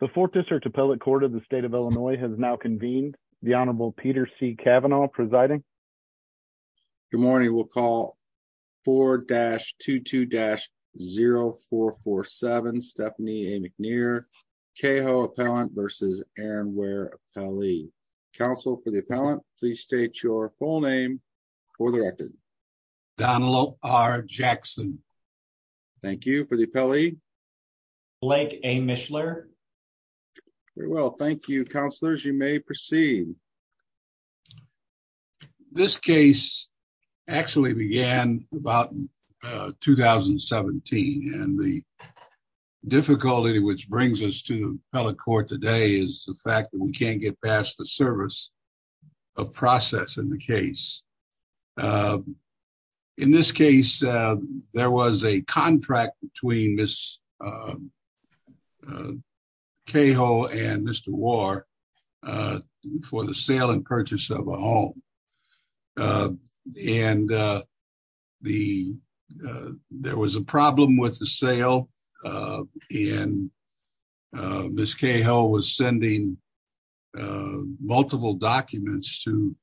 The 4th District Appellate Court of the State of Illinois has now convened. The Honorable Peter C. Kavanaugh presiding. Good morning. We'll call 4-22-0447 Stephanie A. McNair, CAHO Appellant v. Aaron Ware Appellee. Counsel for the Appellant, please state your full name for the record. Donal R. Jackson Thank you. For the Appellee? Blake A. Mishler Very well. Thank you, Counselors. You may proceed. This case actually began about 2017 and the difficulty which brings us to the Appellate Court today is the fact that we can't get past the service of process in the case. In this case, there was a contract between Ms. CAHO and Mr. Ware for the sale and purchase of a home. And there was a problem with the sale and Ms. CAHO was sending multiple documents to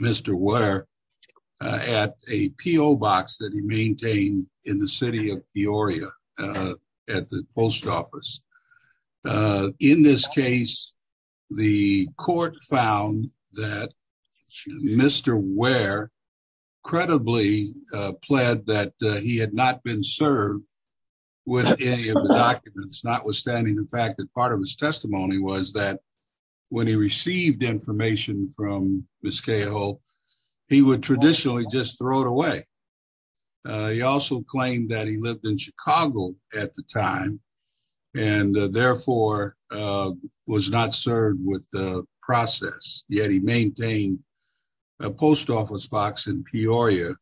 Mr. Ware at a P.O. box that he maintained in the City of Peoria at the Post Office. In this case, the Court found that Mr. Ware credibly pled that he had not been served with any of the documents, notwithstanding the fact that part of his testimony was that when he received information from Ms. CAHO, he would traditionally just throw it away. He also claimed that he lived in Chicago at the time and therefore was not served with the process, yet he maintained a Post Office box in Peoria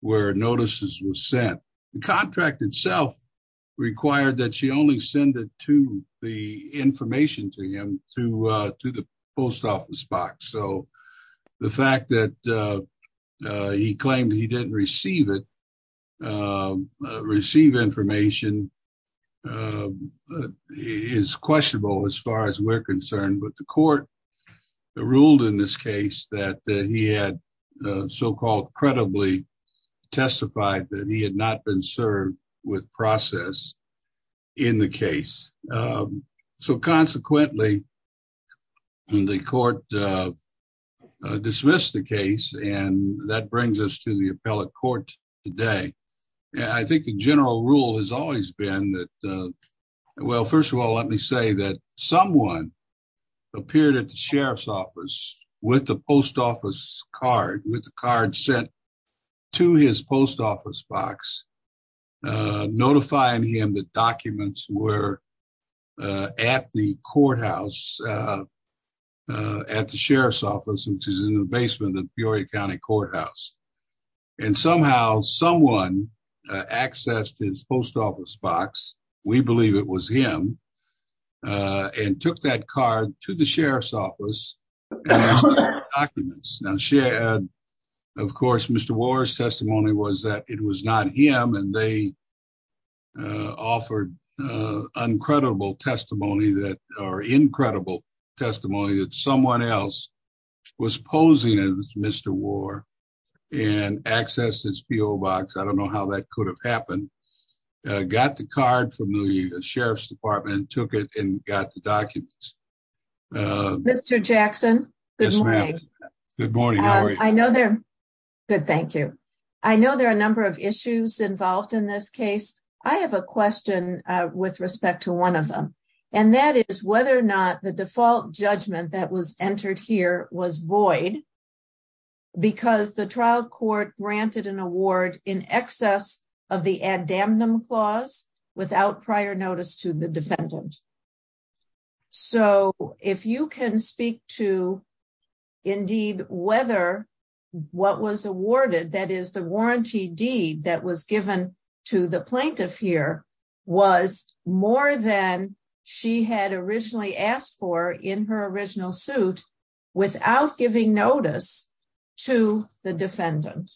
where notices were sent. The contract itself required that she only send the information to him through the Post Office box. The fact that he claimed he didn't receive it, receive information, is questionable as far as we're concerned, but the Court ruled in this case that he had so-called credibly testified that he had not been served with process in the case. So consequently, the Court dismissed the case and that brings us to the appellate court today. I think the general rule has always been that, well, first of all, let me say that someone appeared at the Sheriff's office with the Post Office card, with the card sent to his Post Office box, notifying him that documents were at the courthouse, at the Sheriff's office, which is in the basement of Peoria County Courthouse. And somehow, someone accessed his Post Office box, we believe it was him, and took that card to the Sheriff's office and asked for the documents. Of course, Mr. Warr's testimony was that it was not him, and they offered incredible testimony that someone else was posing as Mr. Warr and accessed his PO box. I don't know how that could have happened. Got the card from the Sheriff's department, took it, and got the documents. Mr. Jackson? Yes, ma'am. Good morning. How are you? Good, thank you. I know there are a number of issues involved in this case. I have a question with respect to one of them, and that is whether or not the default judgment that was entered here was void because the trial court granted an award in excess of the addamnum clause without prior notice to the defendant. So, if you can speak to, indeed, whether what was awarded, that is the warranty deed that was given to the plaintiff here, was more than she had originally asked for in her original suit without giving notice to the defendant.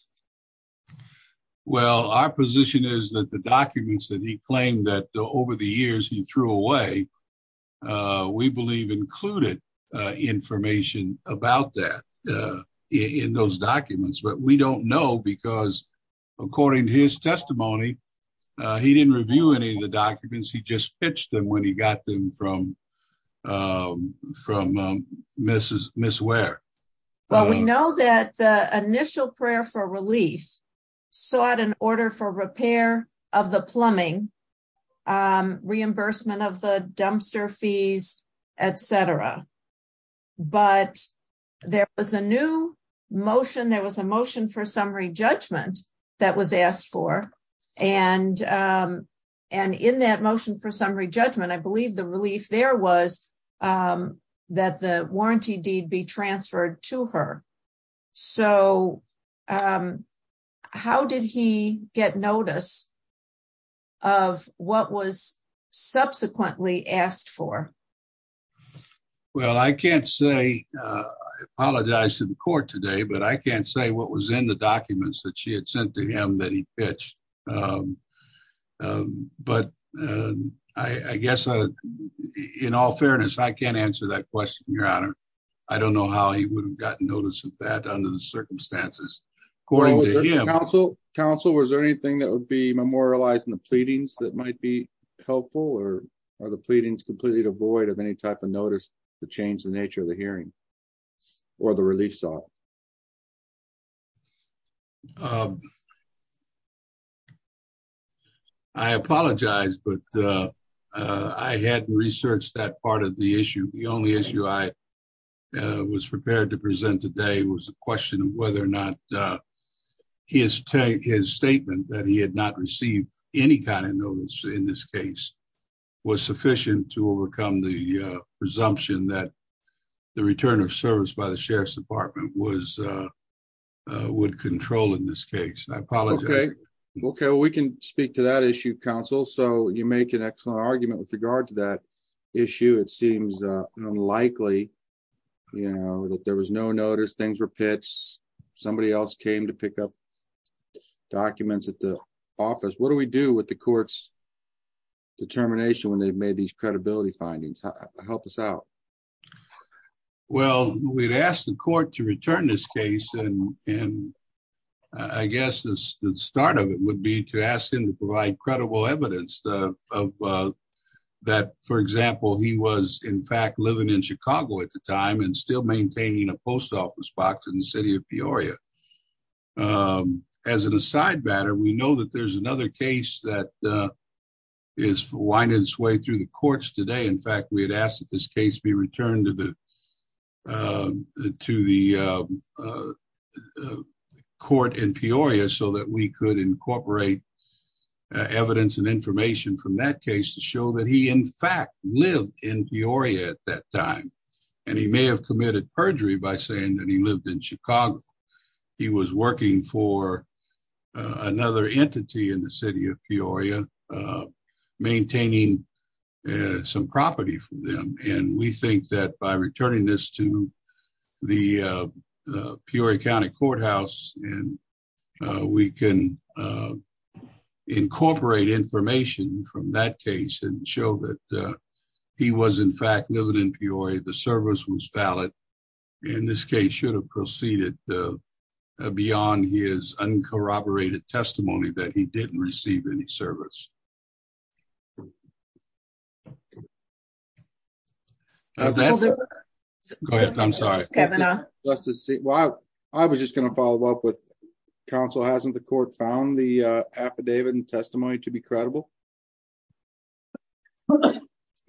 Well, our position is that the documents that he claimed that over the years he threw away, we believe included information about that in those documents. But we don't know because, according to his testimony, he didn't review any of the documents. He just pitched them when he got them from Ms. Ware. Well, we know that the initial prayer for relief sought an order for repair of the plumbing, reimbursement of the dumpster fees, etc. But there was a new motion, there was a motion for summary judgment that was asked for. And in that motion for summary judgment, I believe the relief there was that the warranty deed be transferred to her. So, how did he get notice of what was subsequently asked for? Well, I can't say, I apologize to the court today, but I can't say what was in the documents that she had sent to him that he pitched. But I guess, in all fairness, I can't answer that question, Your Honor. I don't know how he would have gotten notice of that under the circumstances. According to him. Counsel, was there anything that would be memorialized in the pleadings that might be helpful? Or are the pleadings completely devoid of any type of notice to change the nature of the hearing or the relief sought? I apologize, but I hadn't researched that part of the issue. The only issue I was prepared to present today was a question of whether or not his statement that he had not received any kind of notice in this case was sufficient to overcome the presumption that the return of service by the Sheriff's Department would control in this case. I apologize. Okay, we can speak to that issue, Counsel. So, you make an excellent argument with regard to that issue. It seems unlikely, you know, that there was no notice, things were pitched, somebody else came to pick up documents at the office. What do we do with the court's determination when they've made these credibility findings? Help us out. Well, we'd asked the court to return this case. And I guess the start of it would be to ask him to provide credible evidence of that. For example, he was, in fact, living in Chicago at the time and still maintaining a post office box in the city of Peoria. As an aside matter, we know that there's another case that is winding its way through the courts today. In fact, we had asked that this case be returned to the court in Peoria so that we could incorporate evidence and information from that case to show that he, in fact, lived in Peoria at that time. And he may have committed perjury by saying that he lived in Chicago. He was working for another entity in the city of Peoria, maintaining some property for them. And we think that by returning this to the Peoria County Courthouse, we can incorporate information from that case and show that he was, in fact, living in Peoria. In this case, he should have proceeded beyond his uncorroborated testimony that he didn't receive any service. Go ahead. I'm sorry. I was just going to follow up with counsel. Hasn't the court found the affidavit and testimony to be credible?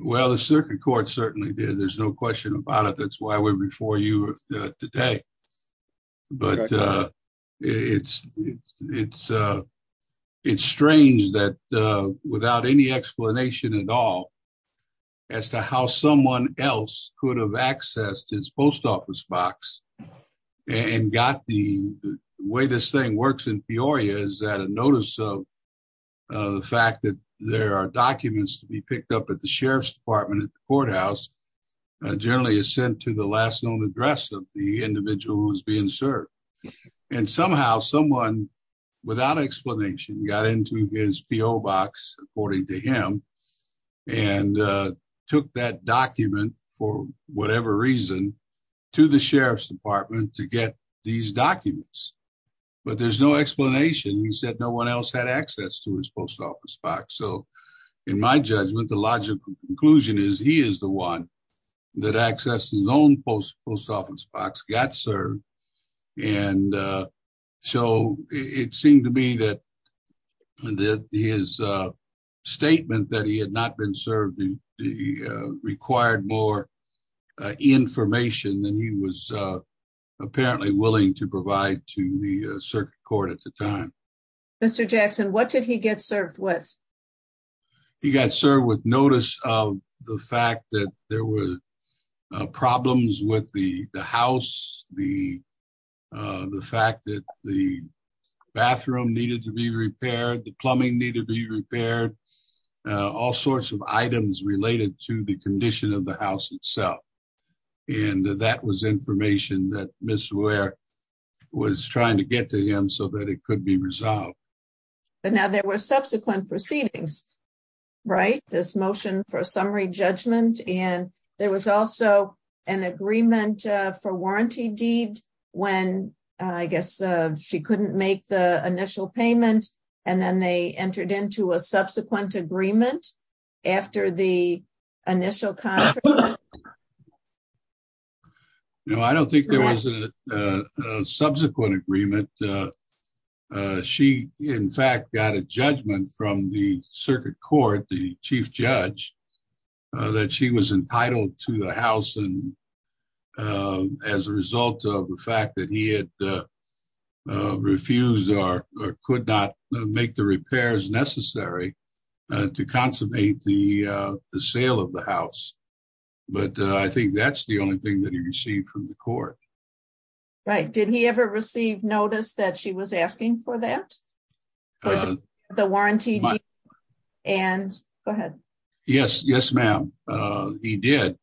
Well, the circuit court certainly did. There's no question about it. That's why we're before you today. But it's strange that without any explanation at all as to how someone else could have accessed his post office box and got the way this thing works in Peoria is that a notice of the fact that there are documents to be picked up at the sheriff's department at the courthouse. Generally is sent to the last known address of the individual who is being served. And somehow someone without explanation got into his PO box, according to him, and took that document for whatever reason to the sheriff's department to get these documents. But there's no explanation. He said no one else had access to his post office box. So in my judgment, the logical conclusion is he is the one that access his own post office box got served. And so it seemed to me that his statement that he had not been served required more information than he was apparently willing to provide to the circuit court at the time. Mr. Jackson, what did he get served with. He got served with notice of the fact that there were problems with the house, the, the fact that the bathroom needed to be repaired the plumbing need to be repaired, all sorts of items related to the condition of the house itself. And that was information that was trying to get to him so that it could be resolved. But now there were subsequent proceedings. Right, this motion for summary judgment, and there was also an agreement for warranty deed. When, I guess, she couldn't make the initial payment, and then they entered into a subsequent agreement. After the initial. No, I don't think there was a subsequent agreement. She, in fact, got a judgment from the circuit court the chief judge that she was entitled to the house and as a result of the fact that he had refused or could not make the repairs necessary to consummate the sale of the house. But I think that's the only thing that he received from the court. Right. Did he ever receive notice that she was asking for that. The warranty. And go ahead. Yes, yes ma'am. He did.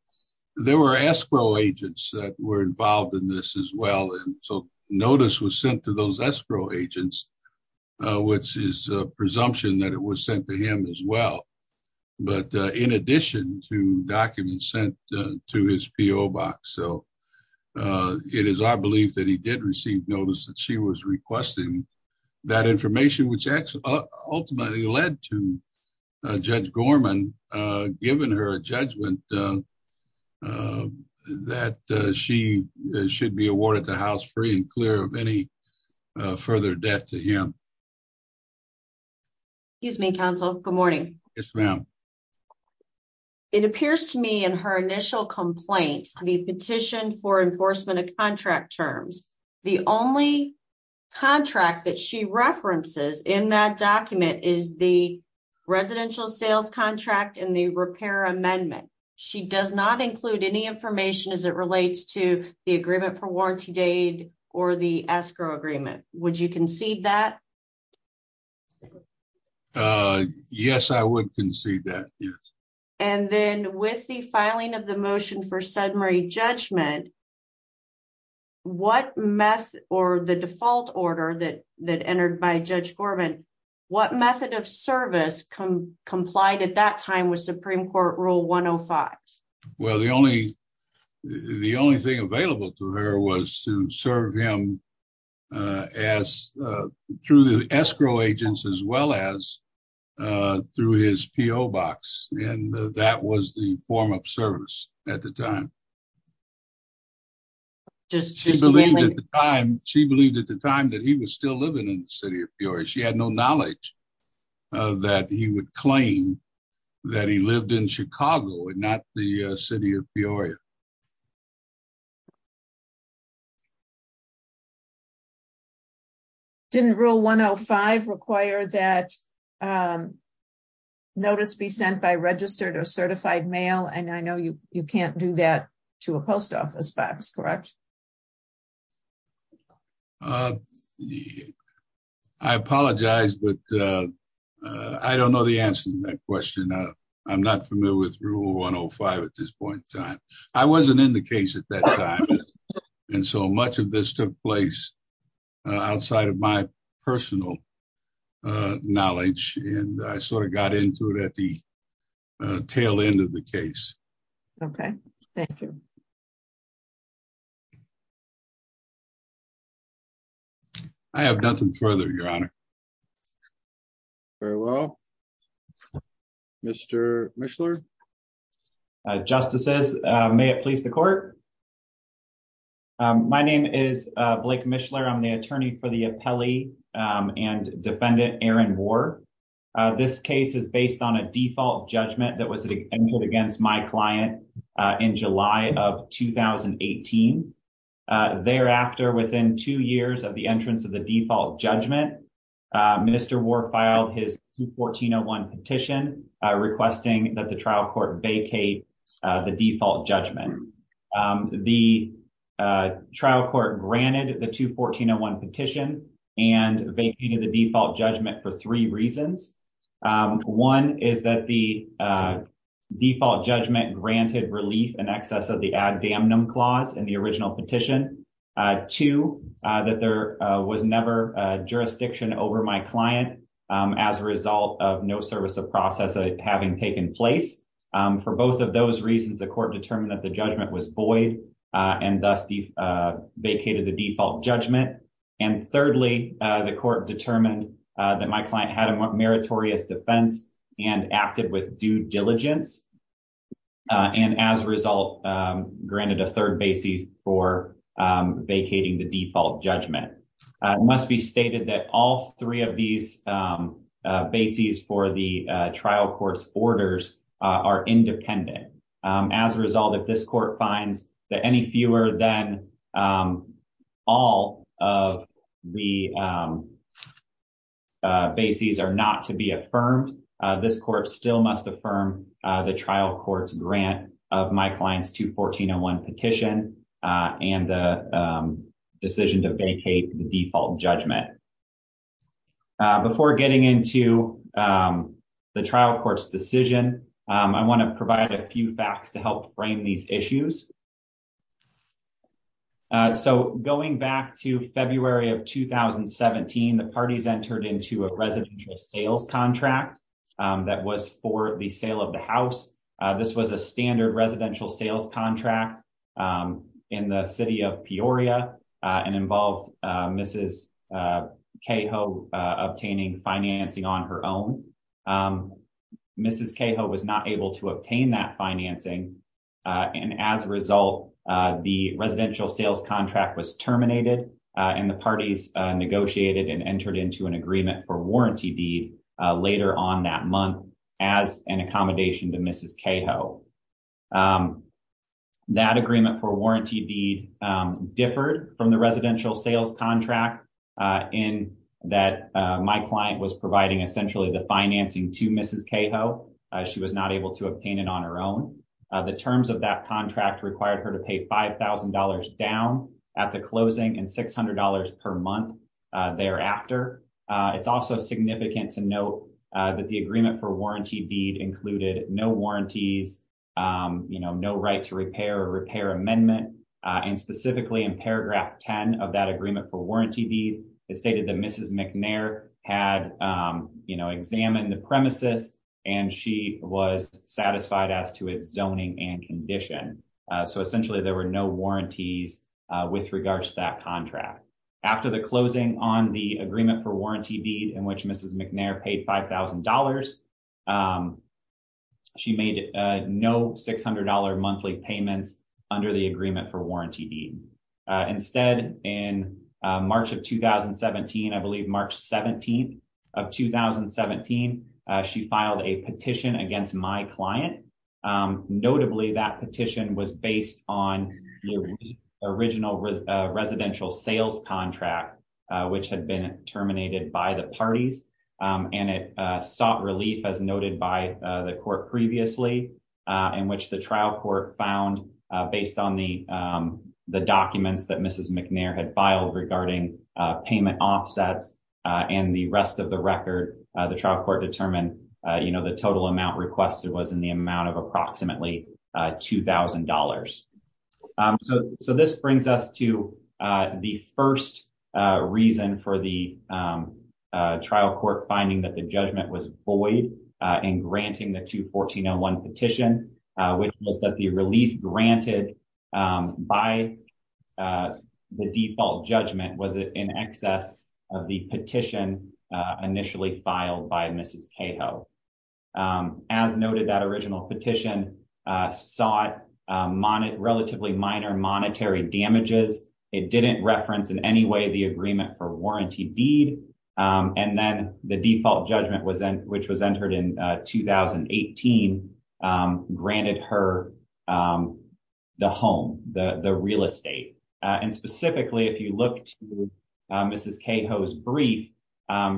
There were escrow agents that were involved in this as well and so notice was sent to those escrow agents, which is presumption that it was sent to him as well. But in addition to documents sent to his PO box so it is I believe that he did receive notice that she was requesting that information which actually ultimately led to judge Gorman, given her a judgment that she should be awarded the house free and clear of any further debt to him. Excuse me, counsel. Good morning. Yes, ma'am. It appears to me in her initial complaint, the petition for enforcement of contract terms. The only contract that she references in that document is the. Contract in the repair amendment. She does not include any information as it relates to the agreement for warranty date, or the escrow agreement. Would you concede that. Yes, I would concede that. And then with the filing of the motion for Sudbury judgment. What math, or the default order that that entered by judge Corbin. What method of service come complied at that time was Supreme Court rule 105. Well, the only the only thing available to her was to serve him as through the escrow agents as well as through his PO box, and that was the form of service at the time. She believed at the time, she believed at the time that he was still living in the city of Fiora. She had no knowledge that he would claim that he lived in Chicago and not the city of Fiora. Didn't rule 105 require that notice be sent by registered or certified mail and I know you, you can't do that to a post office box. Correct. I apologize, but I don't know the answer to that question. I'm not familiar with rule 105 at this point in time. I wasn't in the case at that time. And so much of this took place outside of my personal knowledge, and I sort of got into it at the tail end of the case. Okay, thank you. I have nothing further your honor. Very well. Mr. Michler justices, may it please the court. My name is Blake Michler I'm the attorney for the appellee and defendant Aaron war. This case is based on a default judgment that was against my client in July of 2018. Thereafter, within two years of the entrance of the default judgment. The trial court granted the to 1401 petition, and they came to the default judgment for three reasons. One is that the default judgment granted relief and access of the ad damnum clause and the original petition to that there was never a jurisdiction. Over my client, as a result of no service of process, having taken place for both of those reasons, the court determined that the judgment was void and dusty vacated the default judgment. And thirdly, the court determined that my client had a meritorious defense and acted with due diligence. And as a result, granted a third basis for vacating the default judgment. It must be stated that all three of these bases for the trial courts orders are independent. As a result, if this court finds that any fewer than all of the bases are not to be affirmed. This court still must affirm the trial courts grant of my clients to 1401 petition, and the decision to vacate the default judgment. Before getting into the trial courts decision. I want to provide a few facts to help frame these issues. So, going back to February of 2017 the parties entered into a residential sales contract that was for the sale of the house. This was a standard residential sales contract in the city of Peoria, and involved, Mrs. Cahill obtaining financing on her own. Mrs. Cahill was not able to obtain that financing. And as a result, the residential sales contract was terminated, and the parties negotiated and entered into an agreement for warranty be later on that month as an accommodation to Mrs. Cahill. That agreement for warranty be differed from the residential sales contract in that my client was providing essentially the financing to Mrs. Cahill. She was not able to obtain it on her own. The terms of that contract required her to pay $5,000 down at the closing and $600 per month. Thereafter, it's also significant to note that the agreement for warranty deed included no warranties. You know, no right to repair repair amendment, and specifically in paragraph 10 of that agreement for warranty be stated that Mrs McNair had, you know, examine the premises, and she was satisfied as to its zoning and condition. So essentially there were no warranties. With regards to that contract. After the closing on the agreement for warranty be in which Mrs McNair paid $5,000. She made no $600 monthly payments under the agreement for warranty be instead in March of 2017 I believe March 17 of 2017 she filed a petition against my client. Notably that petition was based on the original residential sales contract, which had been terminated by the parties, and it sought relief as noted by the court previously, in which the trial court found based on the, the documents that Mrs McNair had filed regarding payment offsets, and the rest of the record, the trial court determined, you know, the total amount requested was in the amount of approximately $2,000. So, so this brings us to the first reason for the trial court finding that the judgment was boy, and granting the to 1401 petition, which was that the relief granted by the default judgment was it in excess of the petition. Initially filed by Mrs. Cato, as noted that original petition sought money relatively minor monetary damages. It didn't reference in any way the agreement for warranty deed, and then the default judgment was in, which was entered in 2018 granted her the home, the real estate, and specifically if you look to Mrs. Cato's brief.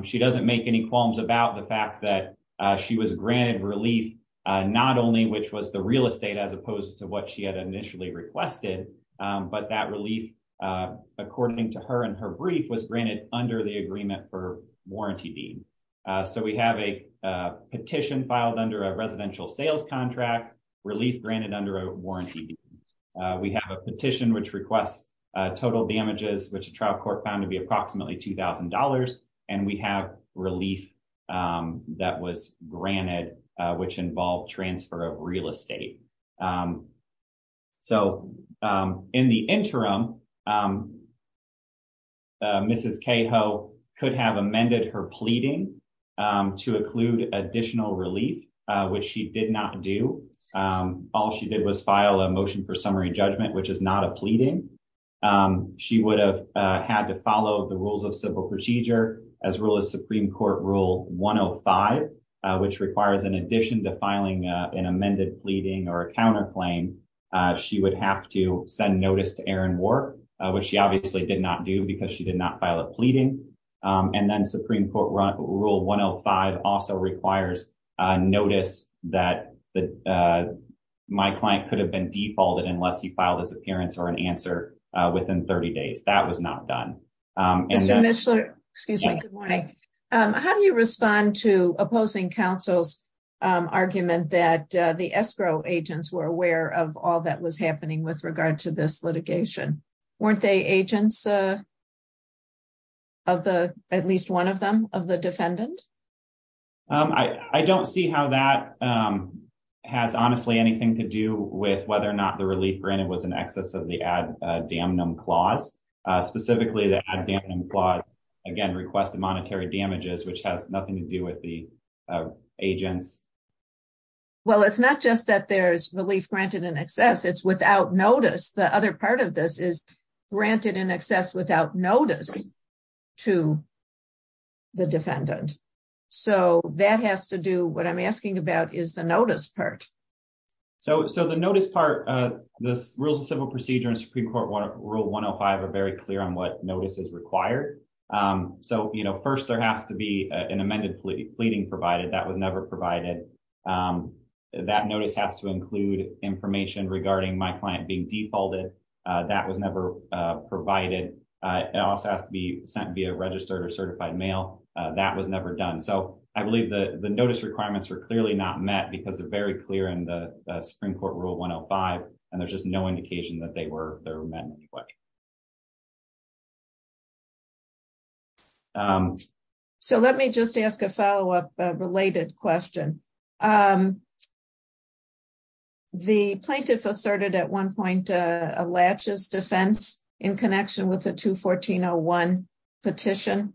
She doesn't make any qualms about the fact that she was granted relief, not only which was the real estate as opposed to what she had initially requested, but that relief. According to her and her brief was granted under the agreement for warranty deed. So we have a petition filed under a residential sales contract relief granted under a warranty. We have a petition which requests total damages which trial court found to be approximately $2,000, and we have relief. That was granted, which involved transfer of real estate. So, in the interim. Mrs. Cato could have amended her pleading to include additional relief, which she did not do all she did was file a motion for summary judgment which is not a pleading. She would have had to follow the rules of civil procedure, as well as Supreme Court rule 105, which requires in addition to filing an amended pleading or a counterclaim. She would have to send notice to Aaron work, which she obviously did not do because she did not file a pleading. And then Supreme Court rule 105 also requires notice that my client could have been defaulted unless he filed his appearance or an answer within 30 days that was not done. Excuse me. Good morning. How do you respond to opposing councils argument that the escrow agents were aware of all that was happening with regard to this litigation. Weren't they agents of the, at least one of them of the defendant. I don't see how that has honestly anything to do with whether or not the relief granted was an excess of the ad damnum clause, specifically the ad damnum clause again requested monetary damages which has nothing to do with the agents. Well, it's not just that there's relief granted in excess it's without notice the other part of this is granted in excess without notice to the defendant. So, that has to do what I'm asking about is the notice part. So, so the notice part of this rules of civil procedure and Supreme Court one of rule 105 are very clear on what notices required. So, you know, first there has to be an amended pleading pleading provided that was never provided that notice has to include information regarding my client being defaulted. That was never provided. I also have to be sent via registered or certified mail. That was never done so I believe the the notice requirements are clearly not met because they're very clear in the Supreme Court rule 105, and there's just no indication that they were there. So let me just ask a follow up related question. The plaintiff asserted at one point, a latches defense in connection with the to 1401 petition.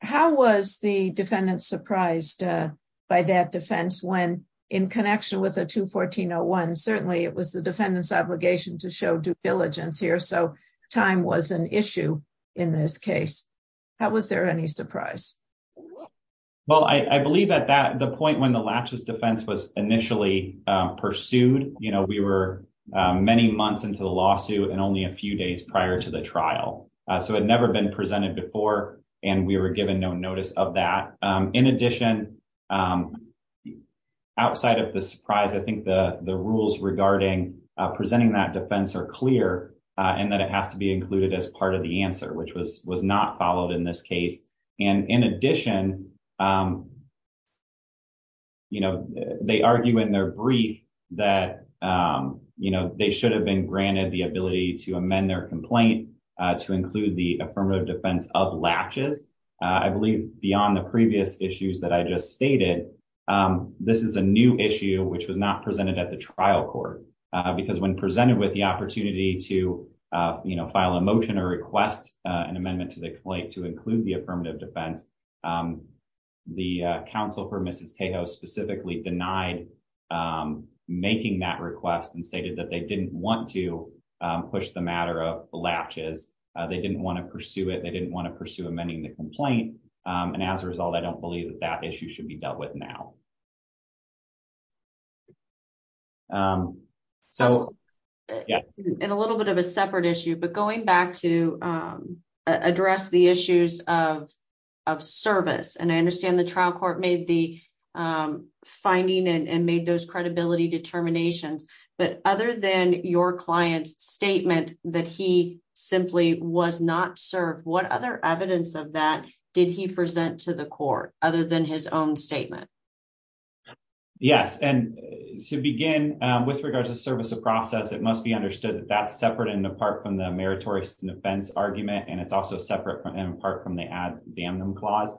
How was the defendant surprised by that defense when in connection with a to 1401 certainly it was the defendant's obligation to show due diligence here so time was an issue. In this case, how was there any surprise. Well, I believe that that the point when the latches defense was initially pursued, you know, we were many months into the lawsuit and only a few days prior to the trial. So it never been presented before, and we were given no notice of that. In addition, outside of the surprise I think the the rules regarding presenting that defense are clear, and that it has to be included as part of the answer which was was not followed in this case. And in addition, you know, they argue in their brief that, you know, they should have been granted the ability to amend their complaint to include the affirmative defense of latches. I believe beyond the previous issues that I just stated. This is a new issue which was not presented at the trial court, because when presented with the opportunity to, you know, file a motion or request an amendment to the complaint to include the affirmative defense. The Council for Mrs chaos specifically denied making that request and stated that they didn't want to push the matter of latches, they didn't want to pursue it they didn't want to pursue amending the complaint. And as a result, I don't believe that that issue should be dealt with now. So, in a little bit of a separate issue but going back to address the issues of of service and I understand the trial court made the finding and made those credibility determinations, but other than your clients statement that he simply was not served what other evidence of that. Did he present to the court, other than his own statement. Yes. And to begin with regards to service of process, it must be understood that that's separate and apart from the meritorious defense argument and it's also separate from him apart from the ad damn them clause.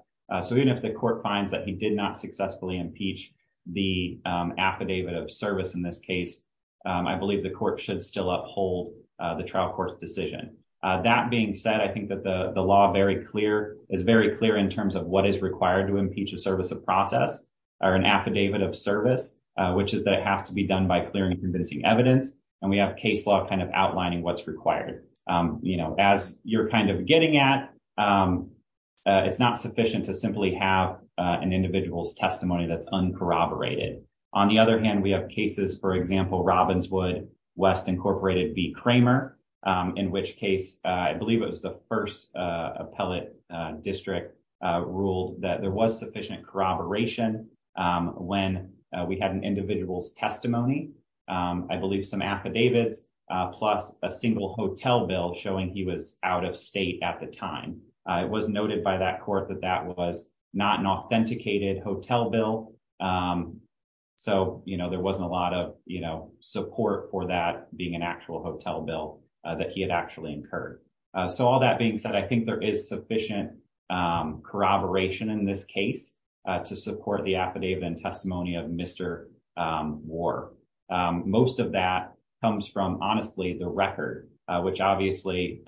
So even if the court finds that he did not successfully impeach the affidavit of service in this case, I believe the court should still uphold the trial court's decision. That being said, I think that the the law very clear is very clear in terms of what is required to impeach a service of process, or an affidavit of service, which is that it has to be done by clearing convincing evidence, and we have case law kind of outlining what's required, you know, as you're kind of getting at. It's not sufficient to simply have an individual's testimony that's uncorroborated. On the other hand, we have cases for example Robinswood West Incorporated be Kramer, in which case, I believe it was the first appellate district ruled that there was sufficient corroboration. When we had an individual's testimony, I believe some affidavits, plus a single hotel bill showing he was out of state at the time, it was noted by that court that that was not an authenticated hotel bill. So, you know, there wasn't a lot of, you know, support for that being an actual hotel bill that he had actually incurred. So all that being said, I think there is sufficient corroboration in this case to support the affidavit and testimony of Mr. Most of that comes from honestly the record, which obviously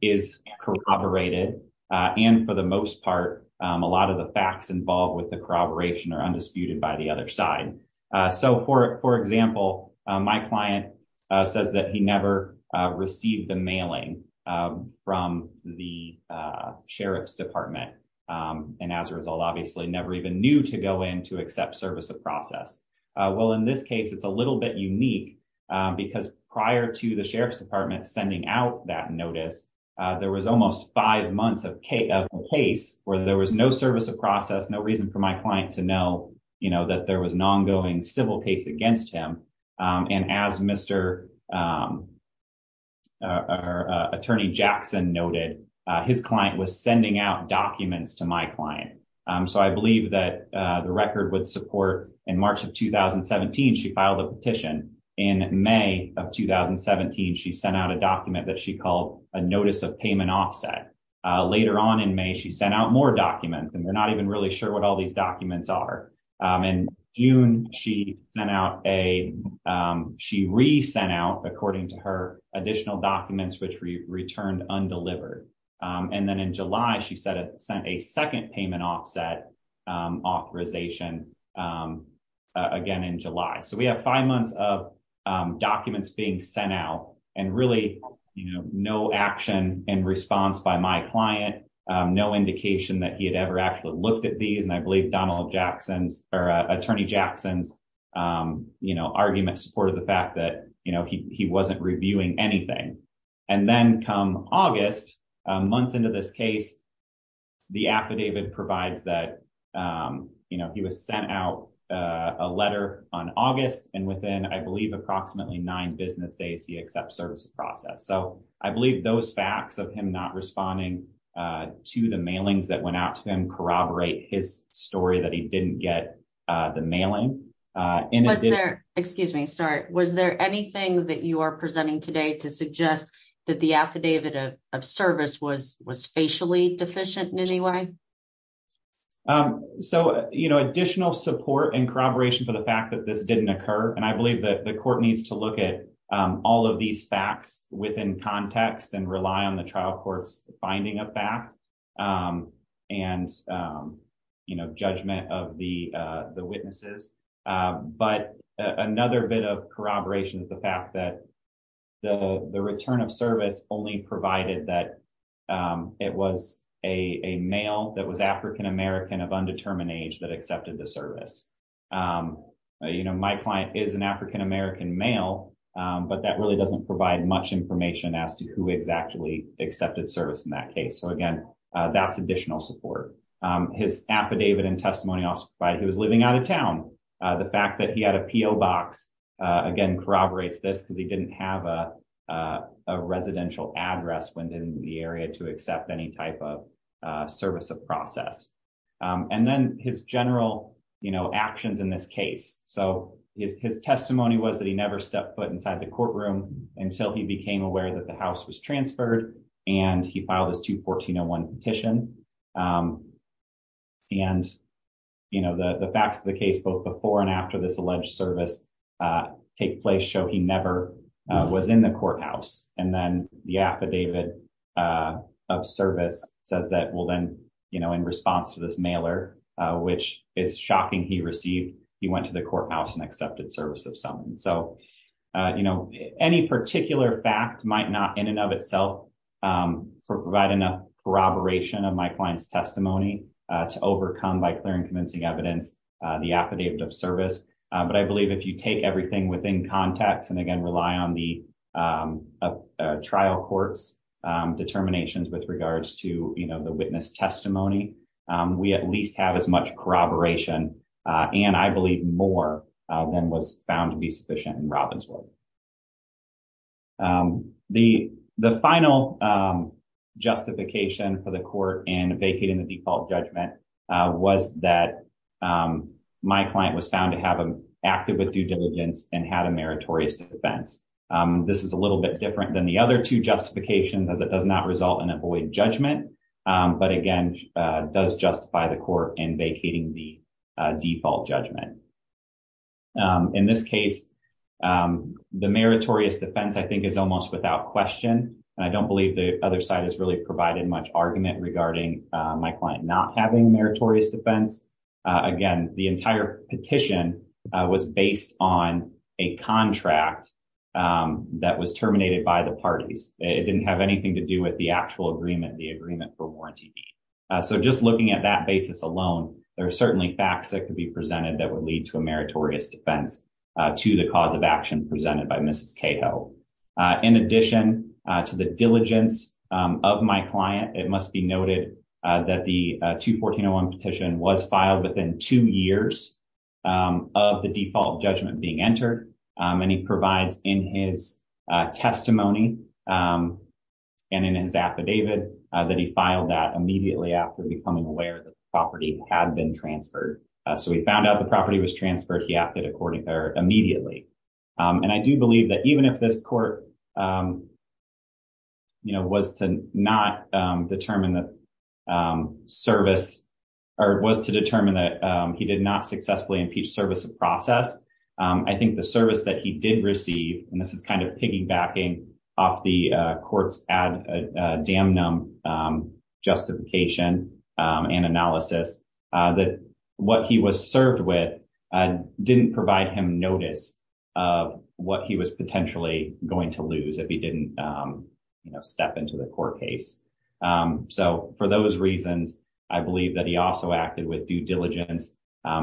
is corroborated, and for the most part, a lot of the facts involved with the corroboration are undisputed by the other side. So for example, my client says that he never received the mailing from the Sheriff's Department. And as a result, obviously never even knew to go in to accept service of process. Well, in this case, it's a little bit unique. Because prior to the Sheriff's Department sending out that notice, there was almost five months of case where there was no service of process, no reason for my client to know, you know, that there was an ongoing civil case against him. And as Mr. Attorney Jackson noted, his client was sending out documents to my client. So I believe that the record would support in March of 2017, she filed a petition. In May of 2017, she sent out a document that she called a notice of payment offset. Later on in May, she sent out more documents, and we're not even really sure what all these documents are. In June, she sent out a, she re-sent out, according to her, additional documents which returned undelivered. And then in July, she sent a second payment offset authorization again in July. So we have five months of documents being sent out and really, you know, no action in response by my client, no indication that he had ever actually looked at these. And I believe Donald Jackson's, or Attorney Jackson's, you know, argument supported the fact that, you know, he wasn't reviewing anything. And then come August, months into this case, the affidavit provides that, you know, he was sent out a letter on August. And within, I believe, approximately nine business days, he accepts service process. So I believe those facts of him not responding to the mailings that went out to him corroborate his story that he didn't get the mailing. Excuse me, sorry. Was there anything that you are presenting today to suggest that the affidavit of service was was facially deficient in any way? So, you know, additional support and corroboration for the fact that this didn't occur. And I believe that the court needs to look at all of these facts within context and rely on the trial courts finding a fact and, you know, judgment of the witnesses. But another bit of corroboration is the fact that the return of service only provided that it was a male that was African-American of undetermined age that accepted the service. You know, my client is an African-American male, but that really doesn't provide much information as to who exactly accepted service in that case. So, again, that's additional support. His affidavit and testimony by he was living out of town. The fact that he had a P.O. box, again, corroborates this because he didn't have a residential address within the area to accept any type of service of process. And then his general actions in this case. So his testimony was that he never stepped foot inside the courtroom until he became aware that the house was transferred and he filed his 2-1401 petition. And, you know, the facts of the case, both before and after this alleged service take place, show he never was in the courthouse. And then the affidavit of service says that, well, then, you know, in response to this mailer, which is shocking, he received, he went to the courthouse and accepted service of someone. So, you know, any particular fact might not in and of itself provide enough corroboration of my client's testimony to overcome by clear and convincing evidence the affidavit of service. But I believe if you take everything within context and again, rely on the trial courts determinations with regards to, you know, the witness testimony, we at least have as much corroboration and I believe more than was found to be sufficient. The final justification for the court in vacating the default judgment was that my client was found to have acted with due diligence and had a meritorious defense. This is a little bit different than the other 2 justifications as it does not result in a void judgment. But again, does justify the court in vacating the default judgment. In this case, the meritorious defense, I think, is almost without question. I don't believe the other side has really provided much argument regarding my client not having a meritorious defense. Again, the entire petition was based on a contract that was terminated by the parties. It didn't have anything to do with the actual agreement, the agreement for warranty. So, just looking at that basis alone, there are certainly facts that could be presented that would lead to a meritorious defense to the cause of action presented by Mrs. Cato. In addition to the diligence of my client, it must be noted that the 214-01 petition was filed within two years of the default judgment being entered. And he provides in his testimony and in his affidavit that he filed that immediately after becoming aware that the property had been transferred. So, he found out the property was transferred, he acted immediately. And I do believe that even if this court was to not determine the service or was to determine that he did not successfully impeach service of process, I think the service that he did receive, and this is kind of piggybacking off the court's damnum justification and analysis, that what he was served with didn't provide him notice of what he was potentially going to lose if he didn't step into the court case. So, for those reasons, I believe that he also acted with due diligence.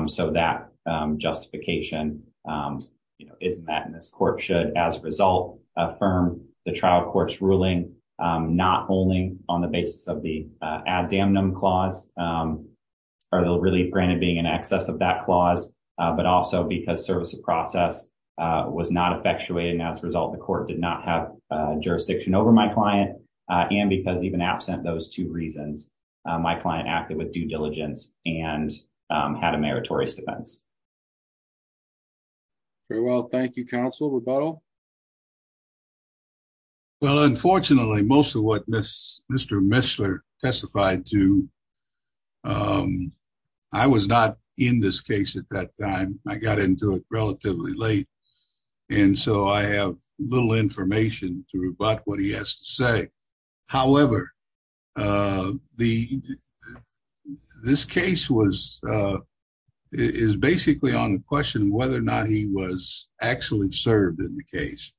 So, that justification is met and this court should, as a result, affirm the trial court's ruling, not only on the basis of the add damnum clause, or the relief granted being in excess of that clause, but also because service of process was not effectuated, and as a result, the court did not have jurisdiction over my client, and because even absent those two reasons, my client acted with due diligence and had a meritorious defense. Very well, thank you, counsel. Well, unfortunately, most of what Mr. Mishler testified to, I was not in this case at that time. I got into it relatively late. And so, I have little information to rebut what he has to say. However, this case is basically on the question whether or not he was actually served in the case,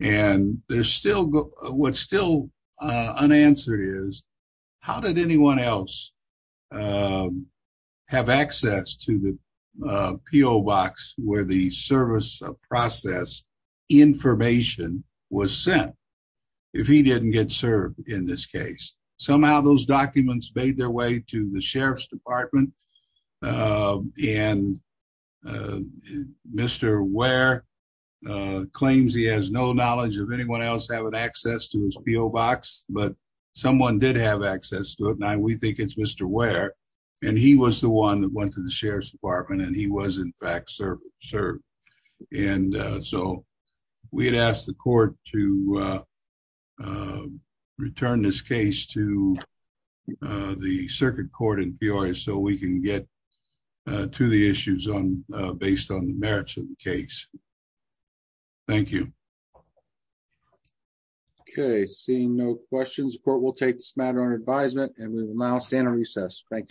and what's still unanswered is, how did anyone else have access to the PO box where the service of process information was sent? If he didn't get served in this case, somehow those documents made their way to the sheriff's department, and Mr. Ware claims he has no knowledge of anyone else having access to his PO box, but someone did have access to it. And we think it's Mr. Ware, and he was the one that went to the sheriff's department, and he was in fact served. And so, we had asked the court to return this case to the circuit court in Peoria so we can get to the issues based on the merits of the case. Thank you. Okay, seeing no questions, the court will take this matter under advisement, and we will now stand on recess. Thank you.